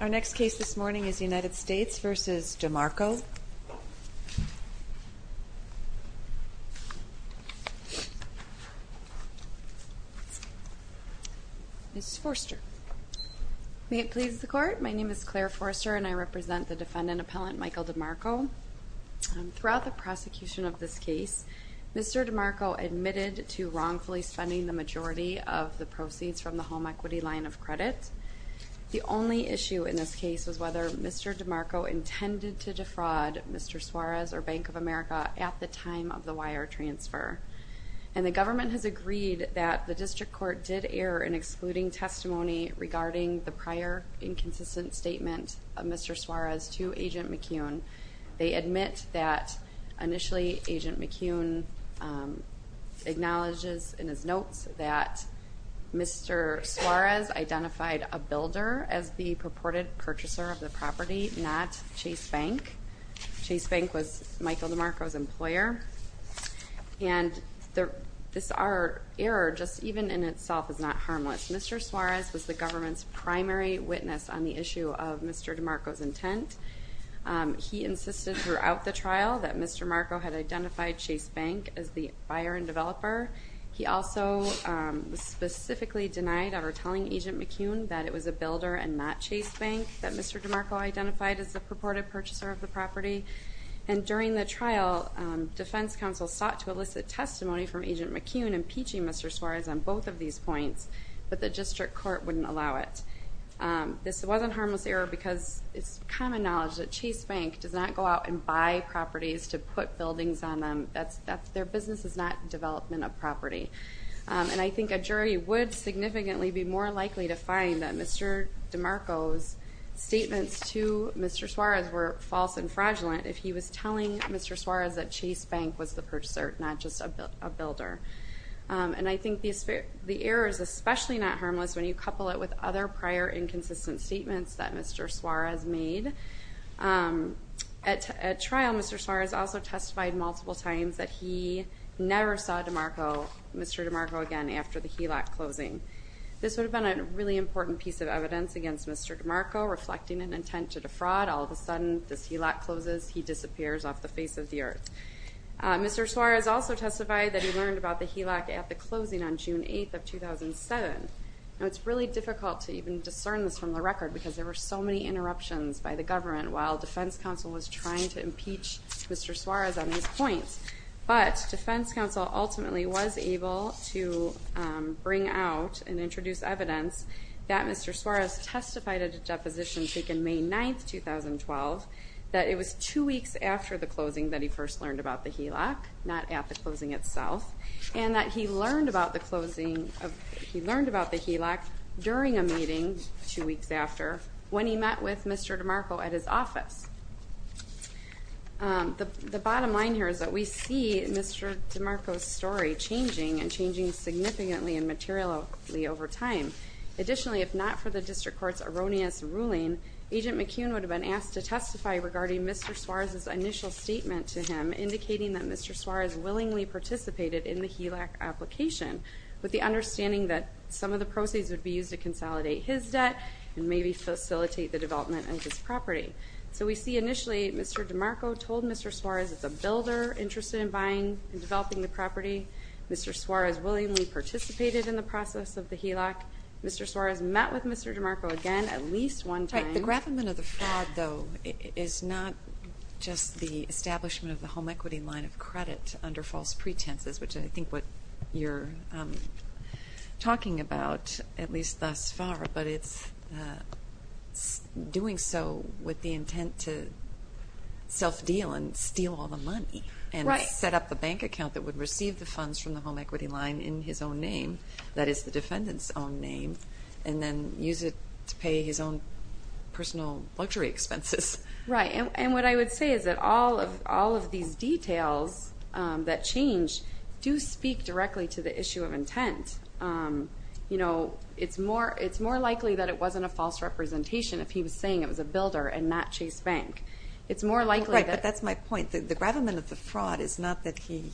Our next case this morning is United States v. DeMarco. Ms. Forster. May it please the Court, my name is Claire Forster and I represent the defendant-appellant Michael DeMarco. Throughout the prosecution of this case, Mr. DeMarco admitted to wrongfully spending the majority of the proceeds from the home equity line of credit. The only issue in this case was whether Mr. DeMarco intended to defraud Mr. Suarez or Bank of America at the time of the wire transfer. And the government has agreed that the district court did err in excluding testimony regarding the prior inconsistent statement of Mr. Suarez to Agent McCune. They admit that initially Agent McCune acknowledges in his notes that Mr. Suarez identified a builder as the purported purchaser of the property, not Chase Bank. Chase Bank was Michael DeMarco's employer. And this error, even in itself, is not harmless. Mr. Suarez was the government's primary witness on the issue of Mr. DeMarco's intent. He insisted throughout the trial that Mr. DeMarco had identified Chase Bank as the buyer and developer. He also specifically denied ever telling Agent McCune that it was a builder and not Chase Bank that Mr. DeMarco identified as the purported purchaser of the property. And during the trial, defense counsel sought to elicit testimony from Agent McCune impeaching Mr. Suarez on both of these points, but the district court wouldn't allow it. This wasn't a harmless error because it's common knowledge that Chase Bank does not go out and buy properties to put buildings on them. Their business is not development of property. And I think a jury would significantly be more likely to find that Mr. DeMarco's statements to Mr. Suarez were false and fraudulent if he was telling Mr. Suarez that Chase Bank was the purchaser, not just a builder. And I think the error is especially not harmless when you couple it with other prior inconsistent statements that Mr. Suarez made. At trial, Mr. Suarez also testified multiple times that he never saw Mr. DeMarco again after the HELOC closing. This would have been a really important piece of evidence against Mr. DeMarco reflecting an intent to defraud. All of a sudden, this HELOC closes. He disappears off the face of the earth. Mr. Suarez also testified that he learned about the HELOC at the closing on June 8th of 2007. Now, it's really difficult to even discern this from the record because there were so many interruptions by the government while defense counsel was trying to impeach Mr. Suarez on these points. But defense counsel ultimately was able to bring out and introduce evidence that Mr. Suarez testified at a deposition taken May 9th, 2012, that it was two weeks after the closing that he first learned about the HELOC, not at the closing itself, and that he learned about the HELOC during a meeting two weeks after when he met with Mr. DeMarco at his office. The bottom line here is that we see Mr. DeMarco's story changing and changing significantly and materially over time. Additionally, if not for the district court's erroneous ruling, Agent McCune would have been asked to testify regarding Mr. Suarez's initial statement to him, indicating that Mr. Suarez willingly participated in the HELOC application, with the understanding that some of the proceeds would be used to consolidate his debt and maybe facilitate the development of his property. So we see initially Mr. DeMarco told Mr. Suarez it's a builder interested in buying and developing the property. Mr. Suarez willingly participated in the process of the HELOC. Mr. Suarez met with Mr. DeMarco again at least one time. Right. The gravamen of the fraud, though, is not just the establishment of the home equity line of credit under false pretenses, which I think what you're talking about, at least thus far, but it's doing so with the intent to self-deal and steal all the money. Right. And set up the bank account that would receive the funds from the home equity line in his own name, that is the defendant's own name, and then use it to pay his own personal luxury expenses. Right. And what I would say is that all of these details that change do speak directly to the issue of intent. You know, it's more likely that it wasn't a false representation if he was saying it was a builder and not Chase Bank. Right, but that's my point. The gravamen of the fraud is not that he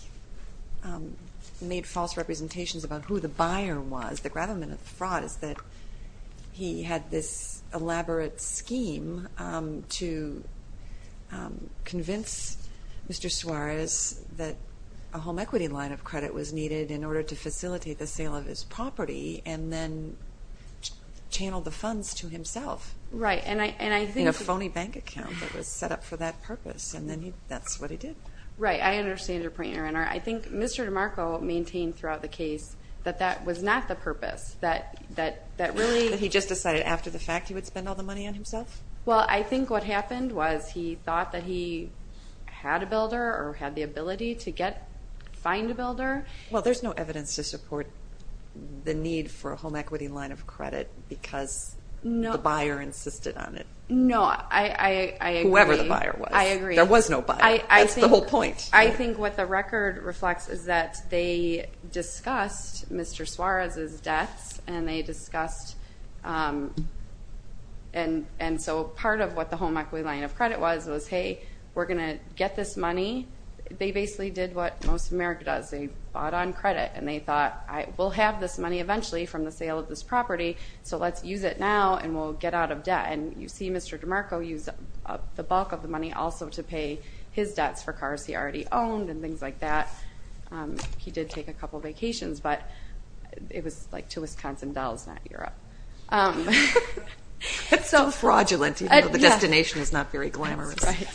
made false representations about who the buyer was. The gravamen of the fraud is that he had this elaborate scheme to convince Mr. Suarez that a home equity line of credit was needed in order to facilitate the sale of his property and then channeled the funds to himself in a phony bank account that was set up for that purpose, and then that's what he did. I think Mr. DeMarco maintained throughout the case that that was not the purpose. That he just decided after the fact he would spend all the money on himself? Well, I think what happened was he thought that he had a builder or had the ability to find a builder. Well, there's no evidence to support the need for a home equity line of credit because the buyer insisted on it. No, I agree. Whoever the buyer was. I agree. There was no buyer. That's the whole point. I think what the record reflects is that they discussed Mr. Suarez's debts and they discussed, and so part of what the home equity line of credit was was, hey, we're going to get this money. They basically did what most of America does. They bought on credit and they thought, we'll have this money eventually from the sale of this property, so let's use it now and we'll get out of debt. And you see Mr. DeMarco use the bulk of the money also to pay his debts for cars he already owned and things like that. He did take a couple vacations, but it was to Wisconsin Dells, not Europe. It's too fraudulent even though the destination is not very glamorous. Right.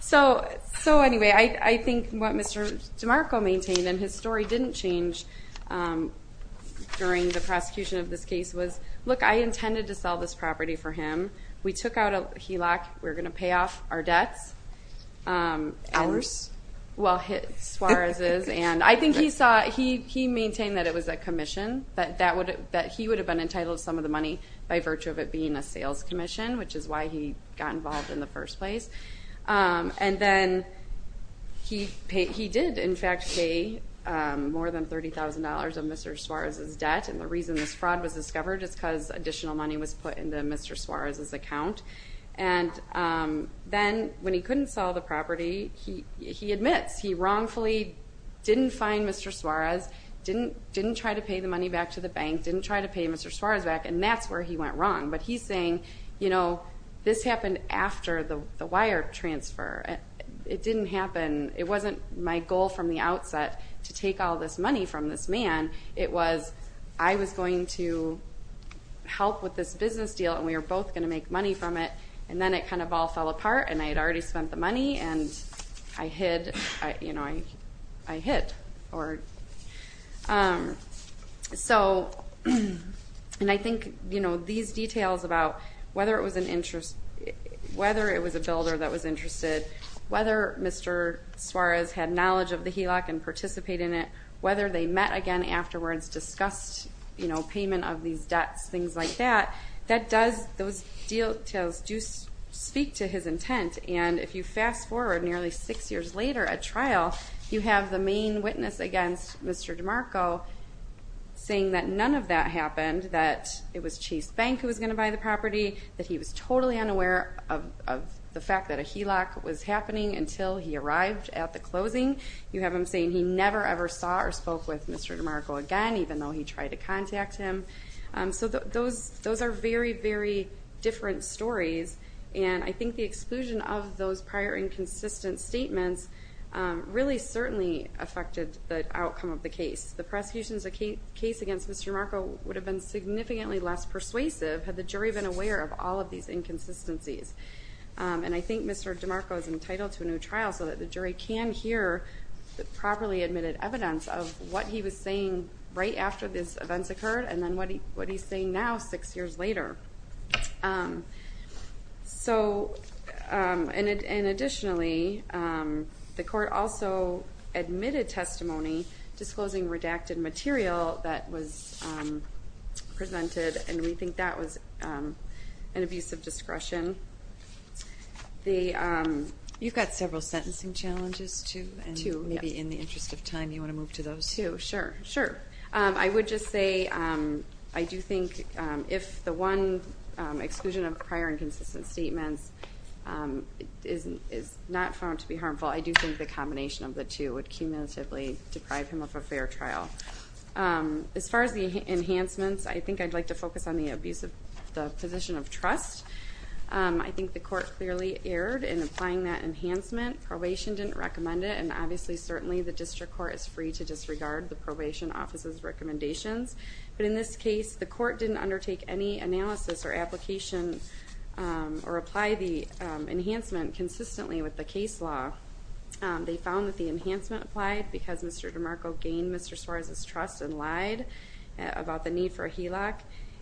So anyway, I think what Mr. DeMarco maintained, and his story didn't change during the prosecution of this case, was, look, I intended to sell this property for him. We took out a HELOC. We're going to pay off our debts. Ours? Well, Suarez's, and I think he maintained that it was a commission, that he would have been entitled to some of the money by virtue of it being a sales commission, which is why he got involved in the first place. And then he did, in fact, pay more than $30,000 of Mr. Suarez's debt, and the reason this fraud was discovered is because additional money was put into Mr. Suarez's account. And then when he couldn't sell the property, he admits he wrongfully didn't find Mr. Suarez, didn't try to pay the money back to the bank, didn't try to pay Mr. Suarez back, and that's where he went wrong. But he's saying, you know, this happened after the wire transfer. It didn't happen. It wasn't my goal from the outset to take all this money from this man. It was I was going to help with this business deal, and we were both going to make money from it, and then it kind of all fell apart, and I had already spent the money, and I hid, you know, I hid. So, and I think, you know, these details about whether it was an interest, whether it was a builder that was interested, whether Mr. Suarez had knowledge of the HELOC and participated in it, whether they met again afterwards, discussed, you know, payment of these debts, things like that, that does, those details do speak to his intent, and if you fast forward nearly six years later at trial, you have the main witness against Mr. DeMarco saying that none of that happened, that it was Chase Bank who was going to buy the property, that he was totally unaware of the fact that a HELOC was happening until he arrived at the closing. You have him saying he never, ever saw or spoke with Mr. DeMarco again, even though he tried to contact him. So those are very, very different stories, and I think the exclusion of those prior inconsistent statements really certainly affected the outcome of the case. The prosecution's case against Mr. DeMarco would have been significantly less persuasive had the jury been aware of all of these inconsistencies, and I think Mr. DeMarco is entitled to a new trial so that the jury can hear the properly admitted evidence of what he was saying right after these events occurred and then what he's saying now six years later. So, and additionally, the court also admitted testimony disclosing redacted material that was presented, and we think that was an abuse of discretion. You've got several sentencing challenges, too? Two, yes. And maybe in the interest of time you want to move to those? Two, sure, sure. I would just say I do think if the one exclusion of prior inconsistent statements is not found to be harmful, I do think the combination of the two would cumulatively deprive him of a fair trial. As far as the enhancements, I think I'd like to focus on the abuse of the position of trust. I think the court clearly erred in applying that enhancement. Probation didn't recommend it, and obviously certainly the district court is free to disregard the probation office's recommendations. But in this case, the court didn't undertake any analysis or application or apply the enhancement consistently with the case law. They found that the enhancement applied because Mr. DeMarco gained Mr. Suarez's trust and lied about the need for a HELOC,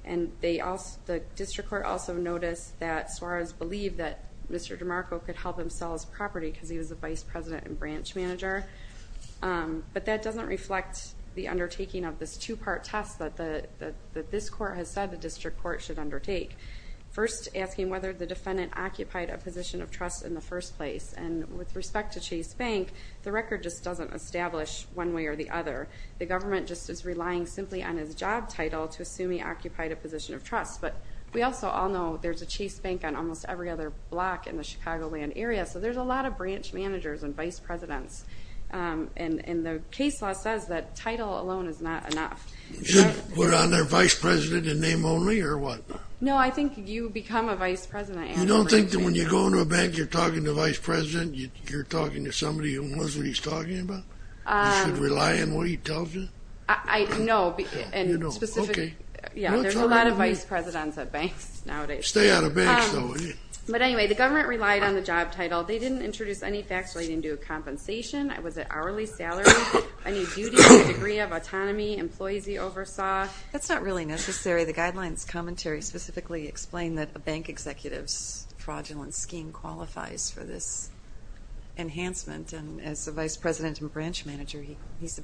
and the district court also noticed that Suarez believed that Mr. DeMarco could help him sell his property because he was the vice president and branch manager. But that doesn't reflect the undertaking of this two-part test that this court has said the district court should undertake. First, asking whether the defendant occupied a position of trust in the first place, and with respect to Chase Bank, the record just doesn't establish one way or the other. The government just is relying simply on his job title to assume he occupied a position of trust. But we also all know there's a Chase Bank on almost every other block in the Chicagoland area, so there's a lot of branch managers and vice presidents. And the case law says that title alone is not enough. Was I their vice president in name only or what? No, I think you become a vice president. You don't think that when you go into a bank you're talking to a vice president, you're talking to somebody who knows what he's talking about? You should rely on what he tells you? No. Okay. Yeah, there's a lot of vice presidents at banks nowadays. Stay out of banks, though. But anyway, the government relied on the job title. They didn't introduce any facts relating to a compensation. Was it hourly salary, any duty, degree of autonomy, employees he oversaw? That's not really necessary. The guidelines commentary specifically explain that a bank executive's fraudulent scheme qualifies for this enhancement. And as the vice president and branch manager, he's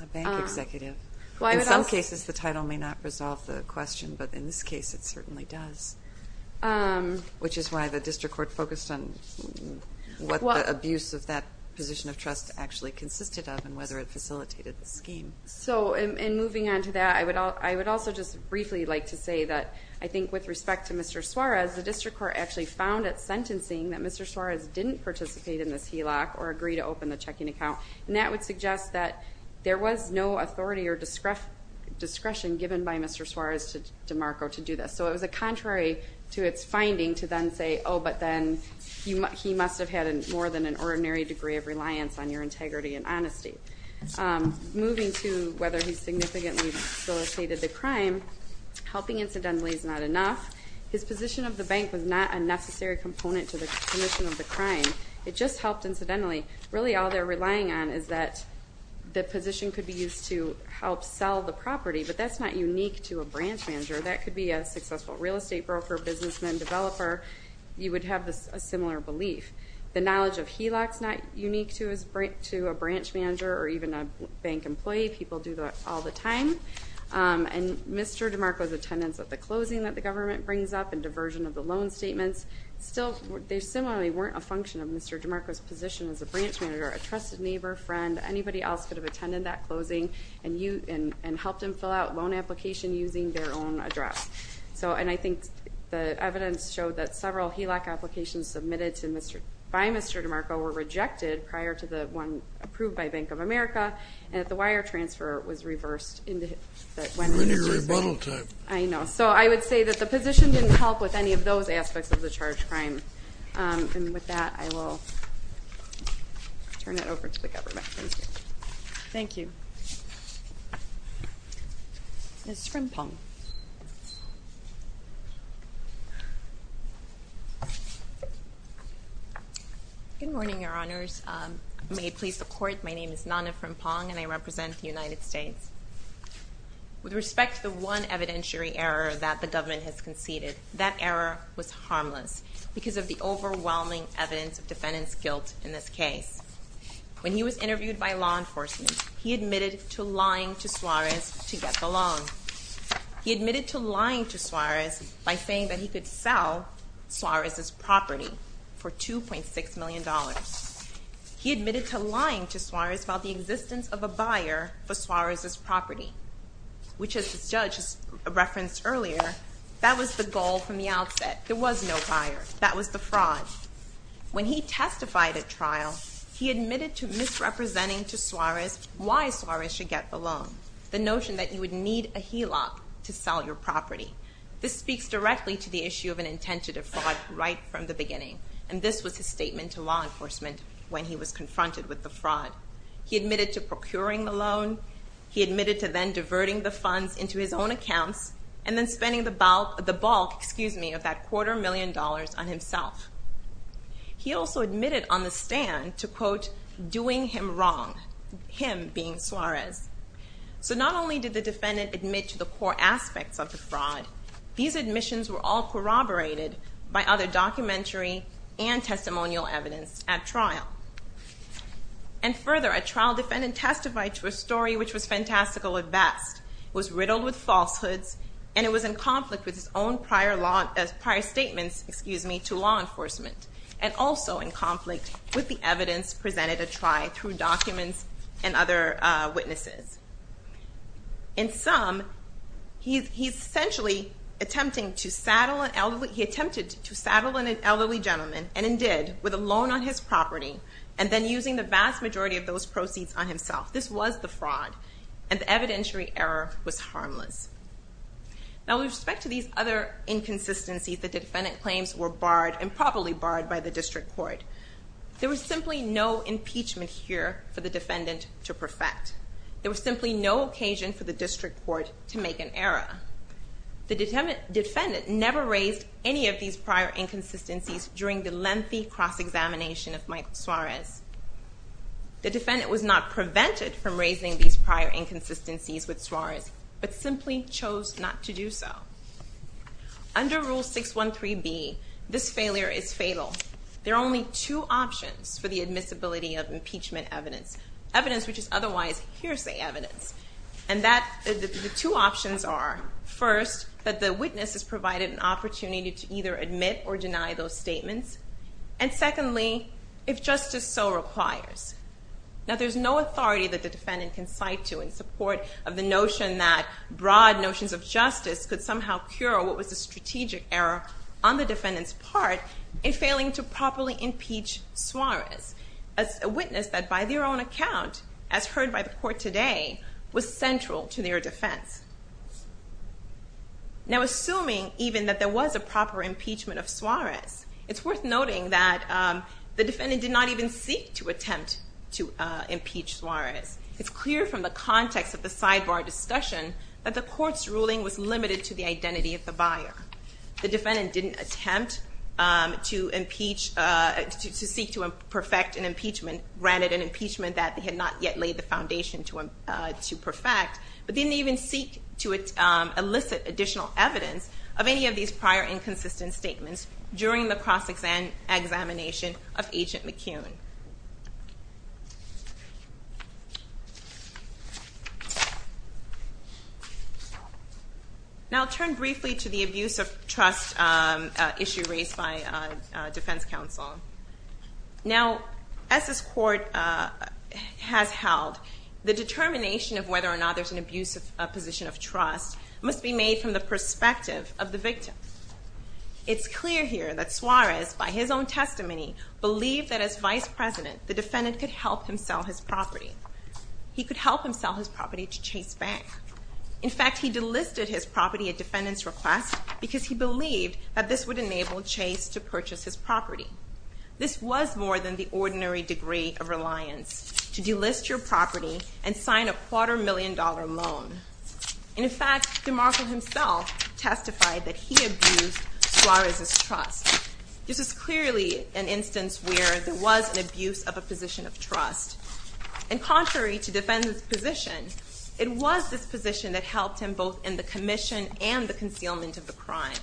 a bank executive. In some cases the title may not resolve the question, but in this case it certainly does, which is why the district court focused on what the abuse of that position of trust actually consisted of and whether it facilitated the scheme. So in moving on to that, I would also just briefly like to say that I think with respect to Mr. Suarez, the district court actually found at sentencing that Mr. Suarez didn't participate in this HELOC or agree to open the checking account, and that would suggest that there was no authority or discretion given by Mr. Suarez to DeMarco to do this. So it was contrary to its finding to then say, oh, but then he must have had more than an ordinary degree of reliance on your integrity and honesty. Moving to whether he significantly facilitated the crime, helping incidentally is not enough. His position of the bank was not a necessary component to the commission of the crime. It just helped incidentally. Really all they're relying on is that the position could be used to help sell the property, but that's not unique to a branch manager. That could be a successful real estate broker, businessman, developer. You would have a similar belief. The knowledge of HELOC is not unique to a branch manager or even a bank employee. People do that all the time, and Mr. DeMarco's attendance at the closing that the government brings up and diversion of the loan statements still, they similarly weren't a function of Mr. DeMarco's position as a branch manager, a trusted neighbor, friend, anybody else could have attended that closing and helped him fill out a loan application using their own address. And I think the evidence showed that several HELOC applications submitted by Mr. DeMarco were rejected prior to the one approved by Bank of America, and that the wire transfer was reversed. A linear rebuttal type. I know. So I would say that the position didn't help with any of those aspects of the charge crime. And with that, I will turn it over to the government. Thank you. Ms. Frimpong. Good morning, Your Honors. May it please the Court, my name is Nana Frimpong, and I represent the United States. With respect to the one evidentiary error that the government has conceded, that error was harmless because of the overwhelming evidence of defendant's guilt in this case. When he was interviewed by law enforcement, he admitted to lying to Suarez to get the loan. He admitted to lying to Suarez by saying that he could sell Suarez's property for $2.6 million. He admitted to lying to Suarez about the existence of a buyer for Suarez's property, which as the judge referenced earlier, that was the goal from the outset. There was no buyer. That was the fraud. When he testified at trial, he admitted to misrepresenting to Suarez why Suarez should get the loan, the notion that you would need a HELOC to sell your property. This speaks directly to the issue of an intent to defraud right from the beginning, and this was his statement to law enforcement when he was confronted with the fraud. He admitted to procuring the loan. He admitted to then diverting the funds into his own accounts, and then spending the bulk of that quarter million dollars on himself. He also admitted on the stand to, quote, doing him wrong, him being Suarez. So not only did the defendant admit to the core aspects of the fraud, these admissions were all corroborated by other documentary and testimonial evidence at trial. And further, a trial defendant testified to a story which was fantastical at best, was riddled with falsehoods, and it was in conflict with his own prior statements to law enforcement, and also in conflict with the evidence presented at trial through documents and other witnesses. In sum, he essentially attempted to saddle an elderly gentleman, and did, with a loan on his property, and then using the vast majority of those proceeds on himself. This was the fraud, and the evidentiary error was harmless. Now with respect to these other inconsistencies, the defendant claims were barred, and probably barred by the district court. There was simply no impeachment here for the defendant to perfect. There was simply no occasion for the district court to make an error. The defendant never raised any of these prior inconsistencies during the lengthy cross-examination of Michael Suarez. The defendant was not prevented from raising these prior inconsistencies with Suarez, but simply chose not to do so. Under Rule 613B, this failure is fatal. There are only two options for the admissibility of impeachment evidence, evidence which is otherwise hearsay evidence. And the two options are, first, that the witness is provided an opportunity to either admit or deny those statements, and secondly, if justice so requires. Now there's no authority that the defendant can cite to in support of the notion that broad notions of justice could somehow cure what was a strategic error on the defendant's part in failing to properly impeach Suarez, as a witness that by their own account, as heard by the court today, was central to their defense. It's worth noting that the defendant did not even seek to attempt to impeach Suarez. It's clear from the context of the sidebar discussion that the court's ruling was limited to the identity of the buyer. The defendant didn't attempt to impeach, to seek to perfect an impeachment, granted an impeachment that they had not yet laid the foundation to perfect, but didn't even seek to elicit additional evidence of any of these prior inconsistent statements during the cross-examination of Agent McCune. Now I'll turn briefly to the abuse of trust issue raised by defense counsel. Now, as this court has held, the determination of whether or not there's an abuse of position of trust must be made from the perspective of the victim. It's clear here that Suarez, by his own testimony, believed that as vice president, the defendant could help him sell his property. He could help him sell his property to Chase Bank. In fact, he delisted his property at defendant's request because he believed that this would enable Chase to purchase his property. This was more than the ordinary degree of reliance to delist your property and sign a quarter million dollar loan. And in fact, DeMarco himself testified that he abused Suarez's trust. This is clearly an instance where there was an abuse of a position of trust. And contrary to defendant's position, it was this position that helped him both in the commission and the concealment of the crime.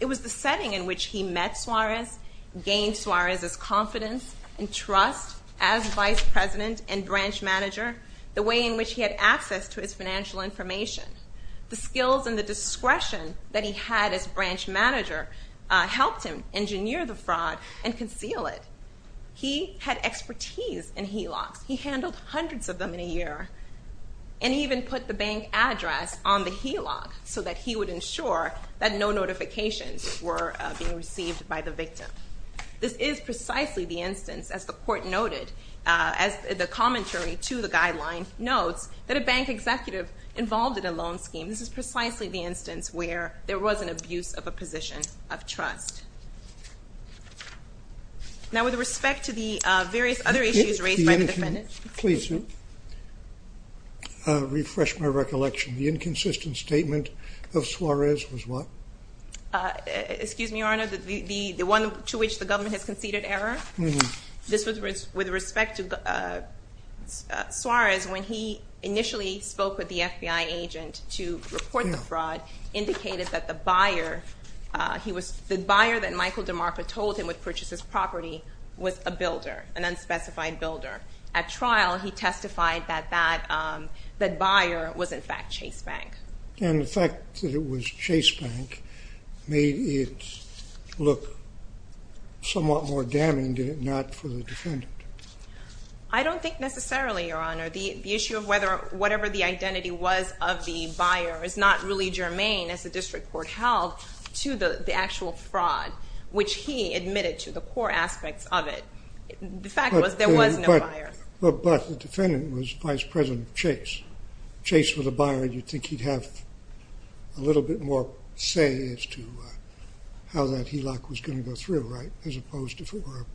It was the setting in which he met Suarez, gained Suarez's confidence and trust as vice president and branch manager, the way in which he had access to his financial information, the skills and the discretion that he had as branch manager helped him engineer the fraud and conceal it. He had expertise in HELOCs. He handled hundreds of them in a year and even put the bank address on the HELOC so that he would ensure that no notifications were being received by the victim. This is precisely the instance, as the court noted, as the commentary to the guideline notes, that a bank executive involved in a loan scheme. This is precisely the instance where there was an abuse of a position of trust. Now with respect to the various other issues raised by the defendants. Please refresh my recollection. The inconsistent statement of Suarez was what? Excuse me, Your Honor, the one to which the government has conceded error? With respect to Suarez, when he initially spoke with the FBI agent to report the fraud, indicated that the buyer that Michael DeMarco told him would purchase his property was a builder, an unspecified builder. At trial, he testified that that buyer was in fact Chase Bank. And the fact that it was Chase Bank made it look somewhat more damning, did it not, for the defendant? I don't think necessarily, Your Honor. The issue of whatever the identity was of the buyer is not really germane, as the district court held, to the actual fraud, which he admitted to the core aspects of it. The fact was there was no buyer. But the defendant was Vice President Chase. Chase was a buyer, and you'd think he'd have a little bit more say as to how that HELOC was going to go through, right, as opposed to if it were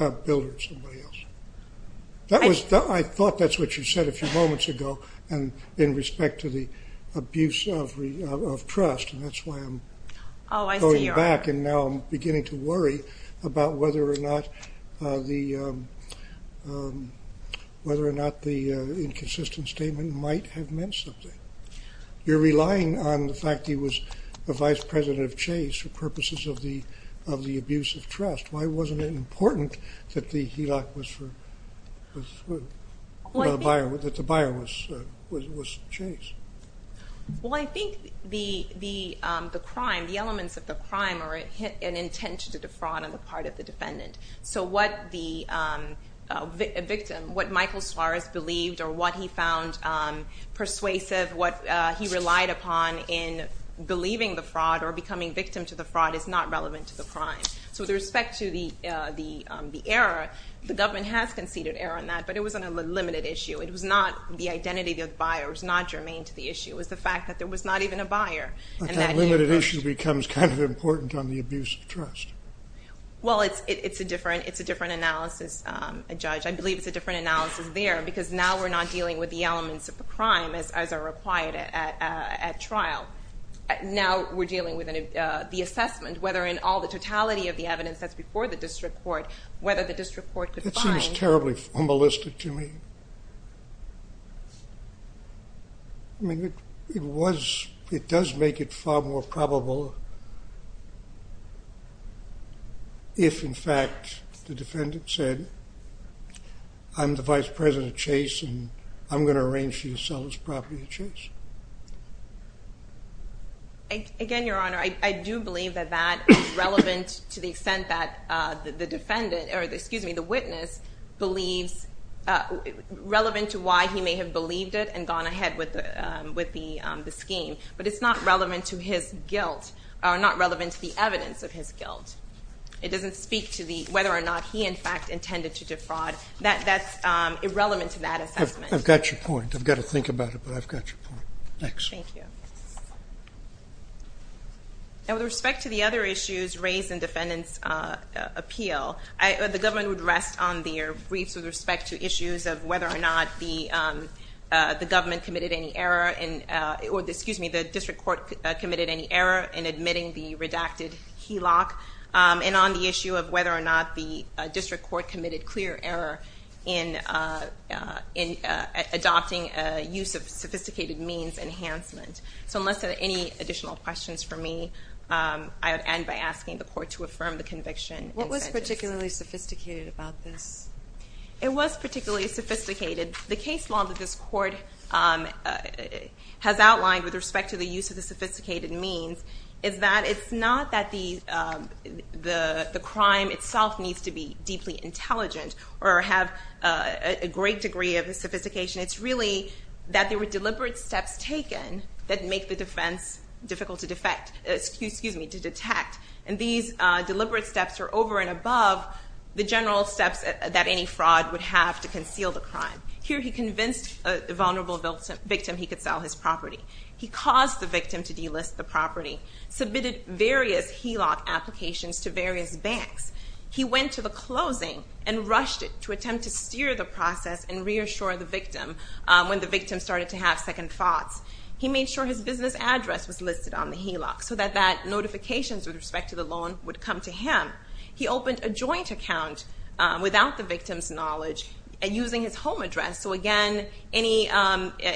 a builder or somebody else. I thought that's what you said a few moments ago in respect to the abuse of trust, and that's why I'm going back and now I'm beginning to worry about whether or not the inconsistent statement might have meant something. You're relying on the fact that he was the Vice President of Chase for purposes of the abuse of trust. Why wasn't it important that the buyer was Chase? Well, I think the crime, the elements of the crime were an intention to defraud on the part of the defendant. So what the victim, what Michael Suarez believed or what he found persuasive, what he relied upon in believing the fraud or becoming victim to the fraud is not relevant to the crime. So with respect to the error, the government has conceded error on that, but it was on a limited issue. It was not the identity of the buyer was not germane to the issue. It was the fact that there was not even a buyer. But that limited issue becomes kind of important on the abuse of trust. Well, it's a different analysis, Judge. I believe it's a different analysis there because now we're not dealing with the elements of the crime as are required at trial. Now we're dealing with the assessment, whether in all the totality of the evidence that's before the district court, whether the district court could find... That seems terribly formalistic to me. I mean, it was... It does make it far more probable if, in fact, the defendant said, I'm the vice president of Chase and I'm going to arrange for you to sell this property to Chase. Again, Your Honor, I do believe that that is relevant to why he may have believed it and gone ahead with the scheme, but it's not relevant to his guilt, or not relevant to the evidence of his guilt. It doesn't speak to whether or not he, in fact, intended to defraud. That's irrelevant to that assessment. I've got your point. I've got to think about it, but I've got your point. Next. Thank you. Now, with respect to the other issues raised in defendant's appeal, the government would rest on their briefs with respect to issues of whether or not the district court committed any error in admitting the redacted HELOC and on the issue of whether or not the district court committed clear error in adopting a use of sophisticated means enhancement. So unless there are any additional questions for me, I would end by asking the court to affirm the conviction. What was particularly sophisticated about this? It was particularly sophisticated. The case law that this court has outlined with respect to the use of the sophisticated means is that it's not that the crime itself needs to be deeply intelligent or have a great degree of sophistication. It's really that there were deliberate steps taken that make the defense difficult to detect, and these deliberate steps are over and above the general steps that any fraud would have to conceal the crime. Here he convinced a vulnerable victim he could sell his property. He caused the victim to delist the property, submitted various HELOC applications to various banks. He went to the closing and rushed it to attempt to steer the process and reassure the victim when the victim started to have second thoughts. He made sure his business address was listed on the HELOC so that notifications with respect to the loan would come to him. He opened a joint account without the victim's knowledge using his home address, so, again, any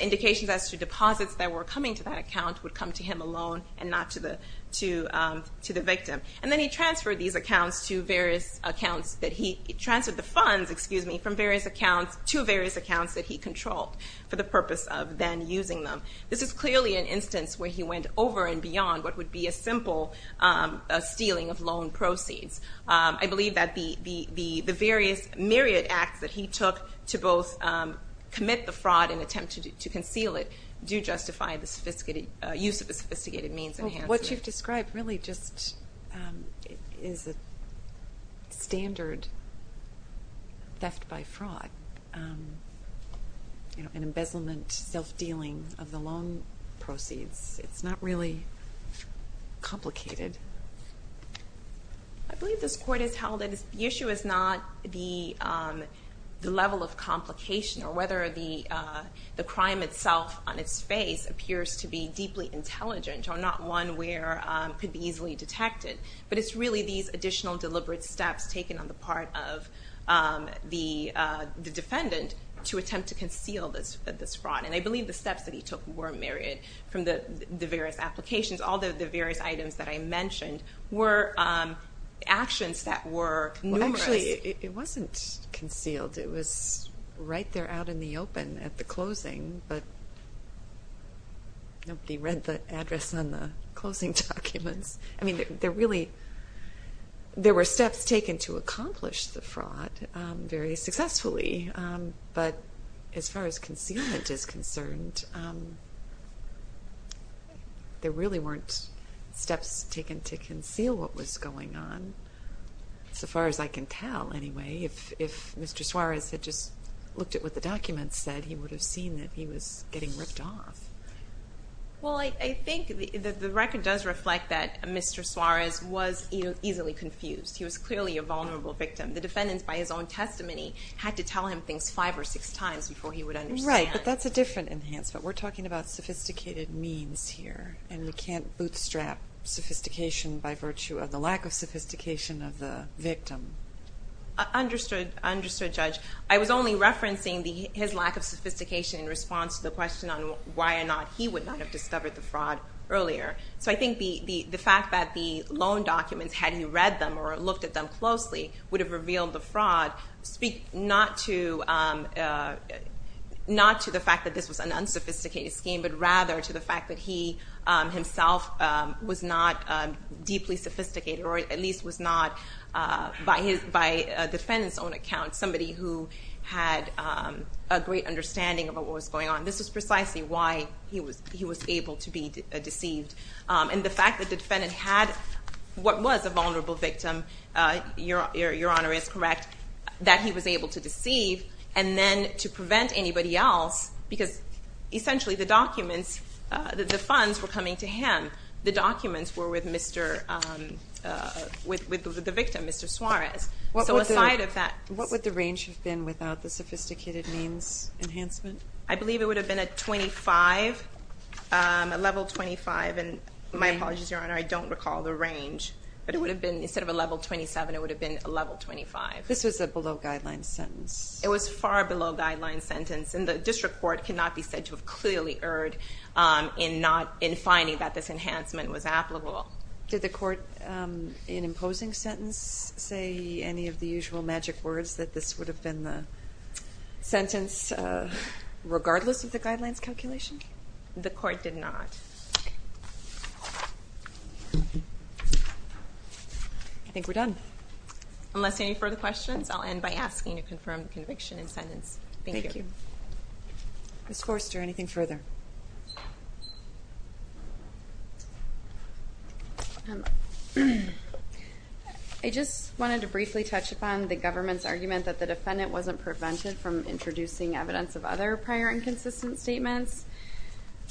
indications as to deposits that were coming to that account would come to him alone and not to the victim. And then he transferred the funds to various accounts that he controlled for the purpose of then using them. This is clearly an instance where he went over and beyond what would be a simple stealing of loan proceeds. I believe that the various myriad acts that he took to both commit the fraud and attempt to conceal it do justify the use of a sophisticated means of enhancement. What you've described really just is a standard theft by fraud, an embezzlement, self-dealing of the loan proceeds. It's not really complicated. I believe this court has held that the issue is not the level of complication or whether the crime itself on its face appears to be deeply intelligent or not one where it could be easily detected, but it's really these additional deliberate steps taken on the part of the defendant to attempt to conceal this fraud. And I believe the steps that he took were myriad from the various applications. All the various items that I mentioned were actions that were numerous. Actually, it wasn't concealed. It was right there out in the open at the closing, but nobody read the address on the closing documents. I mean, there were steps taken to accomplish the fraud very successfully, but as far as concealment is concerned, there really weren't steps taken to conceal what was going on, so far as I can tell, anyway. If Mr. Suarez had just looked at what the documents said, he would have seen that he was getting ripped off. Well, I think the record does reflect that Mr. Suarez was easily confused. He was clearly a vulnerable victim. The defendants, by his own testimony, had to tell him things five or six times before he would understand. Right, but that's a different enhancement. We're talking about sophisticated means here, and we can't bootstrap sophistication by virtue of the lack of sophistication of the victim. Understood, Judge. I was only referencing his lack of sophistication in response to the question on why or not he would not have discovered the fraud earlier. So I think the fact that the loan documents, had he read them or looked at them closely, would have revealed the fraud, not to the fact that this was an unsophisticated scheme, but rather to the fact that he himself was not deeply sophisticated or at least was not, by the defendant's own account, somebody who had a great understanding about what was going on. This was precisely why he was able to be deceived. And the fact that the defendant had what was a vulnerable victim, Your Honor is correct, that he was able to deceive, and then to prevent anybody else, because essentially the documents, the funds were coming to him. The documents were with the victim, Mr. Suarez. What would the range have been without the sophisticated means enhancement? I believe it would have been a 25, a level 25. And my apologies, Your Honor, I don't recall the range. But it would have been, instead of a level 27, it would have been a level 25. This was a below-guideline sentence. It was far below-guideline sentence, and the district court cannot be said to have clearly erred in finding that this enhancement was applicable. Did the court, in imposing sentence, say any of the usual magic words that this would have been the sentence, regardless of the guidelines calculation? The court did not. I think we're done. Unless any further questions, I'll end by asking to confirm the conviction and sentence. Thank you. Thank you. Ms. Forster, anything further? I just wanted to briefly touch upon the government's argument that the defendant wasn't prevented from introducing evidence of other prior inconsistent statements.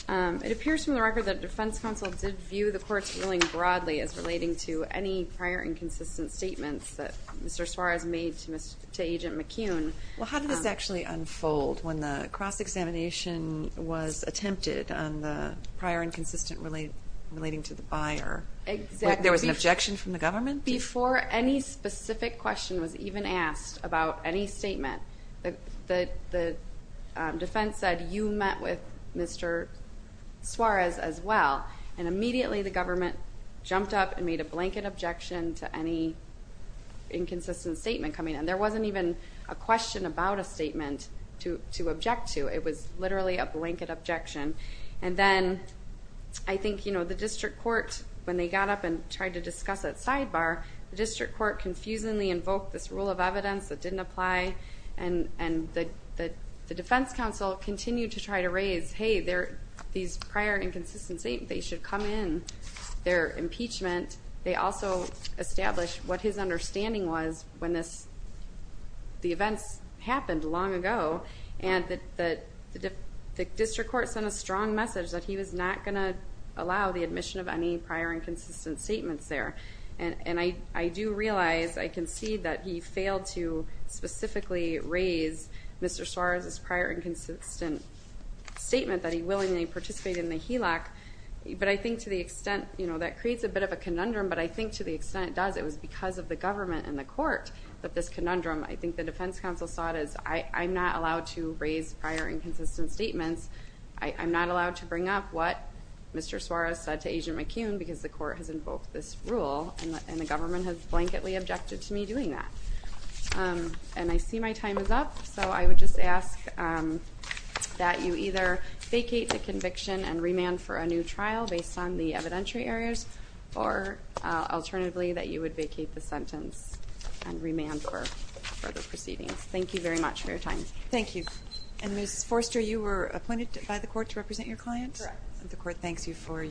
It appears from the record that the defense counsel did view the court's ruling broadly as relating to any prior inconsistent statements that Mr. Suarez made to Agent McCune. Well, how did this actually unfold when the cross-examination was attempted on the prior inconsistent relating to the buyer? There was an objection from the government? Before any specific question was even asked about any statement, the defense said you met with Mr. Suarez as well, and immediately the government jumped up and made a blanket objection to any inconsistent statement coming in. There wasn't even a question about a statement to object to. It was literally a blanket objection. And then I think the district court, when they got up and tried to discuss it sidebar, the district court confusingly invoked this rule of evidence that didn't apply, and the defense counsel continued to try to raise, hey, these prior inconsistent statements, they should come in their impeachment. They also established what his understanding was when the events happened long ago, and the district court sent a strong message that he was not going to allow the admission of any prior inconsistent statements there. And I do realize, I can see, that he failed to specifically raise Mr. Suarez's prior inconsistent statement that he willingly participated in the HELOC, but I think to the extent, you know, that creates a bit of a conundrum, but I think to the extent it does, it was because of the government and the court that this conundrum, I think the defense counsel saw it as, I'm not allowed to raise prior inconsistent statements. I'm not allowed to bring up what Mr. Suarez said to Agent McCune because the court has invoked this rule, and the government has blanketly objected to me doing that. And I see my time is up, so I would just ask that you either vacate the conviction and remand for a new trial based on the evidentiary areas, or alternatively that you would vacate the sentence and remand for further proceedings. Thank you very much for your time. Thank you. And Ms. Forster, you were appointed by the court to represent your client? Correct. The court thanks you for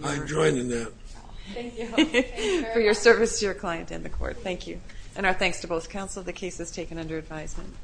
your service to your client and the court. Thank you. And our thanks to both counsel. The case is taken under advisement.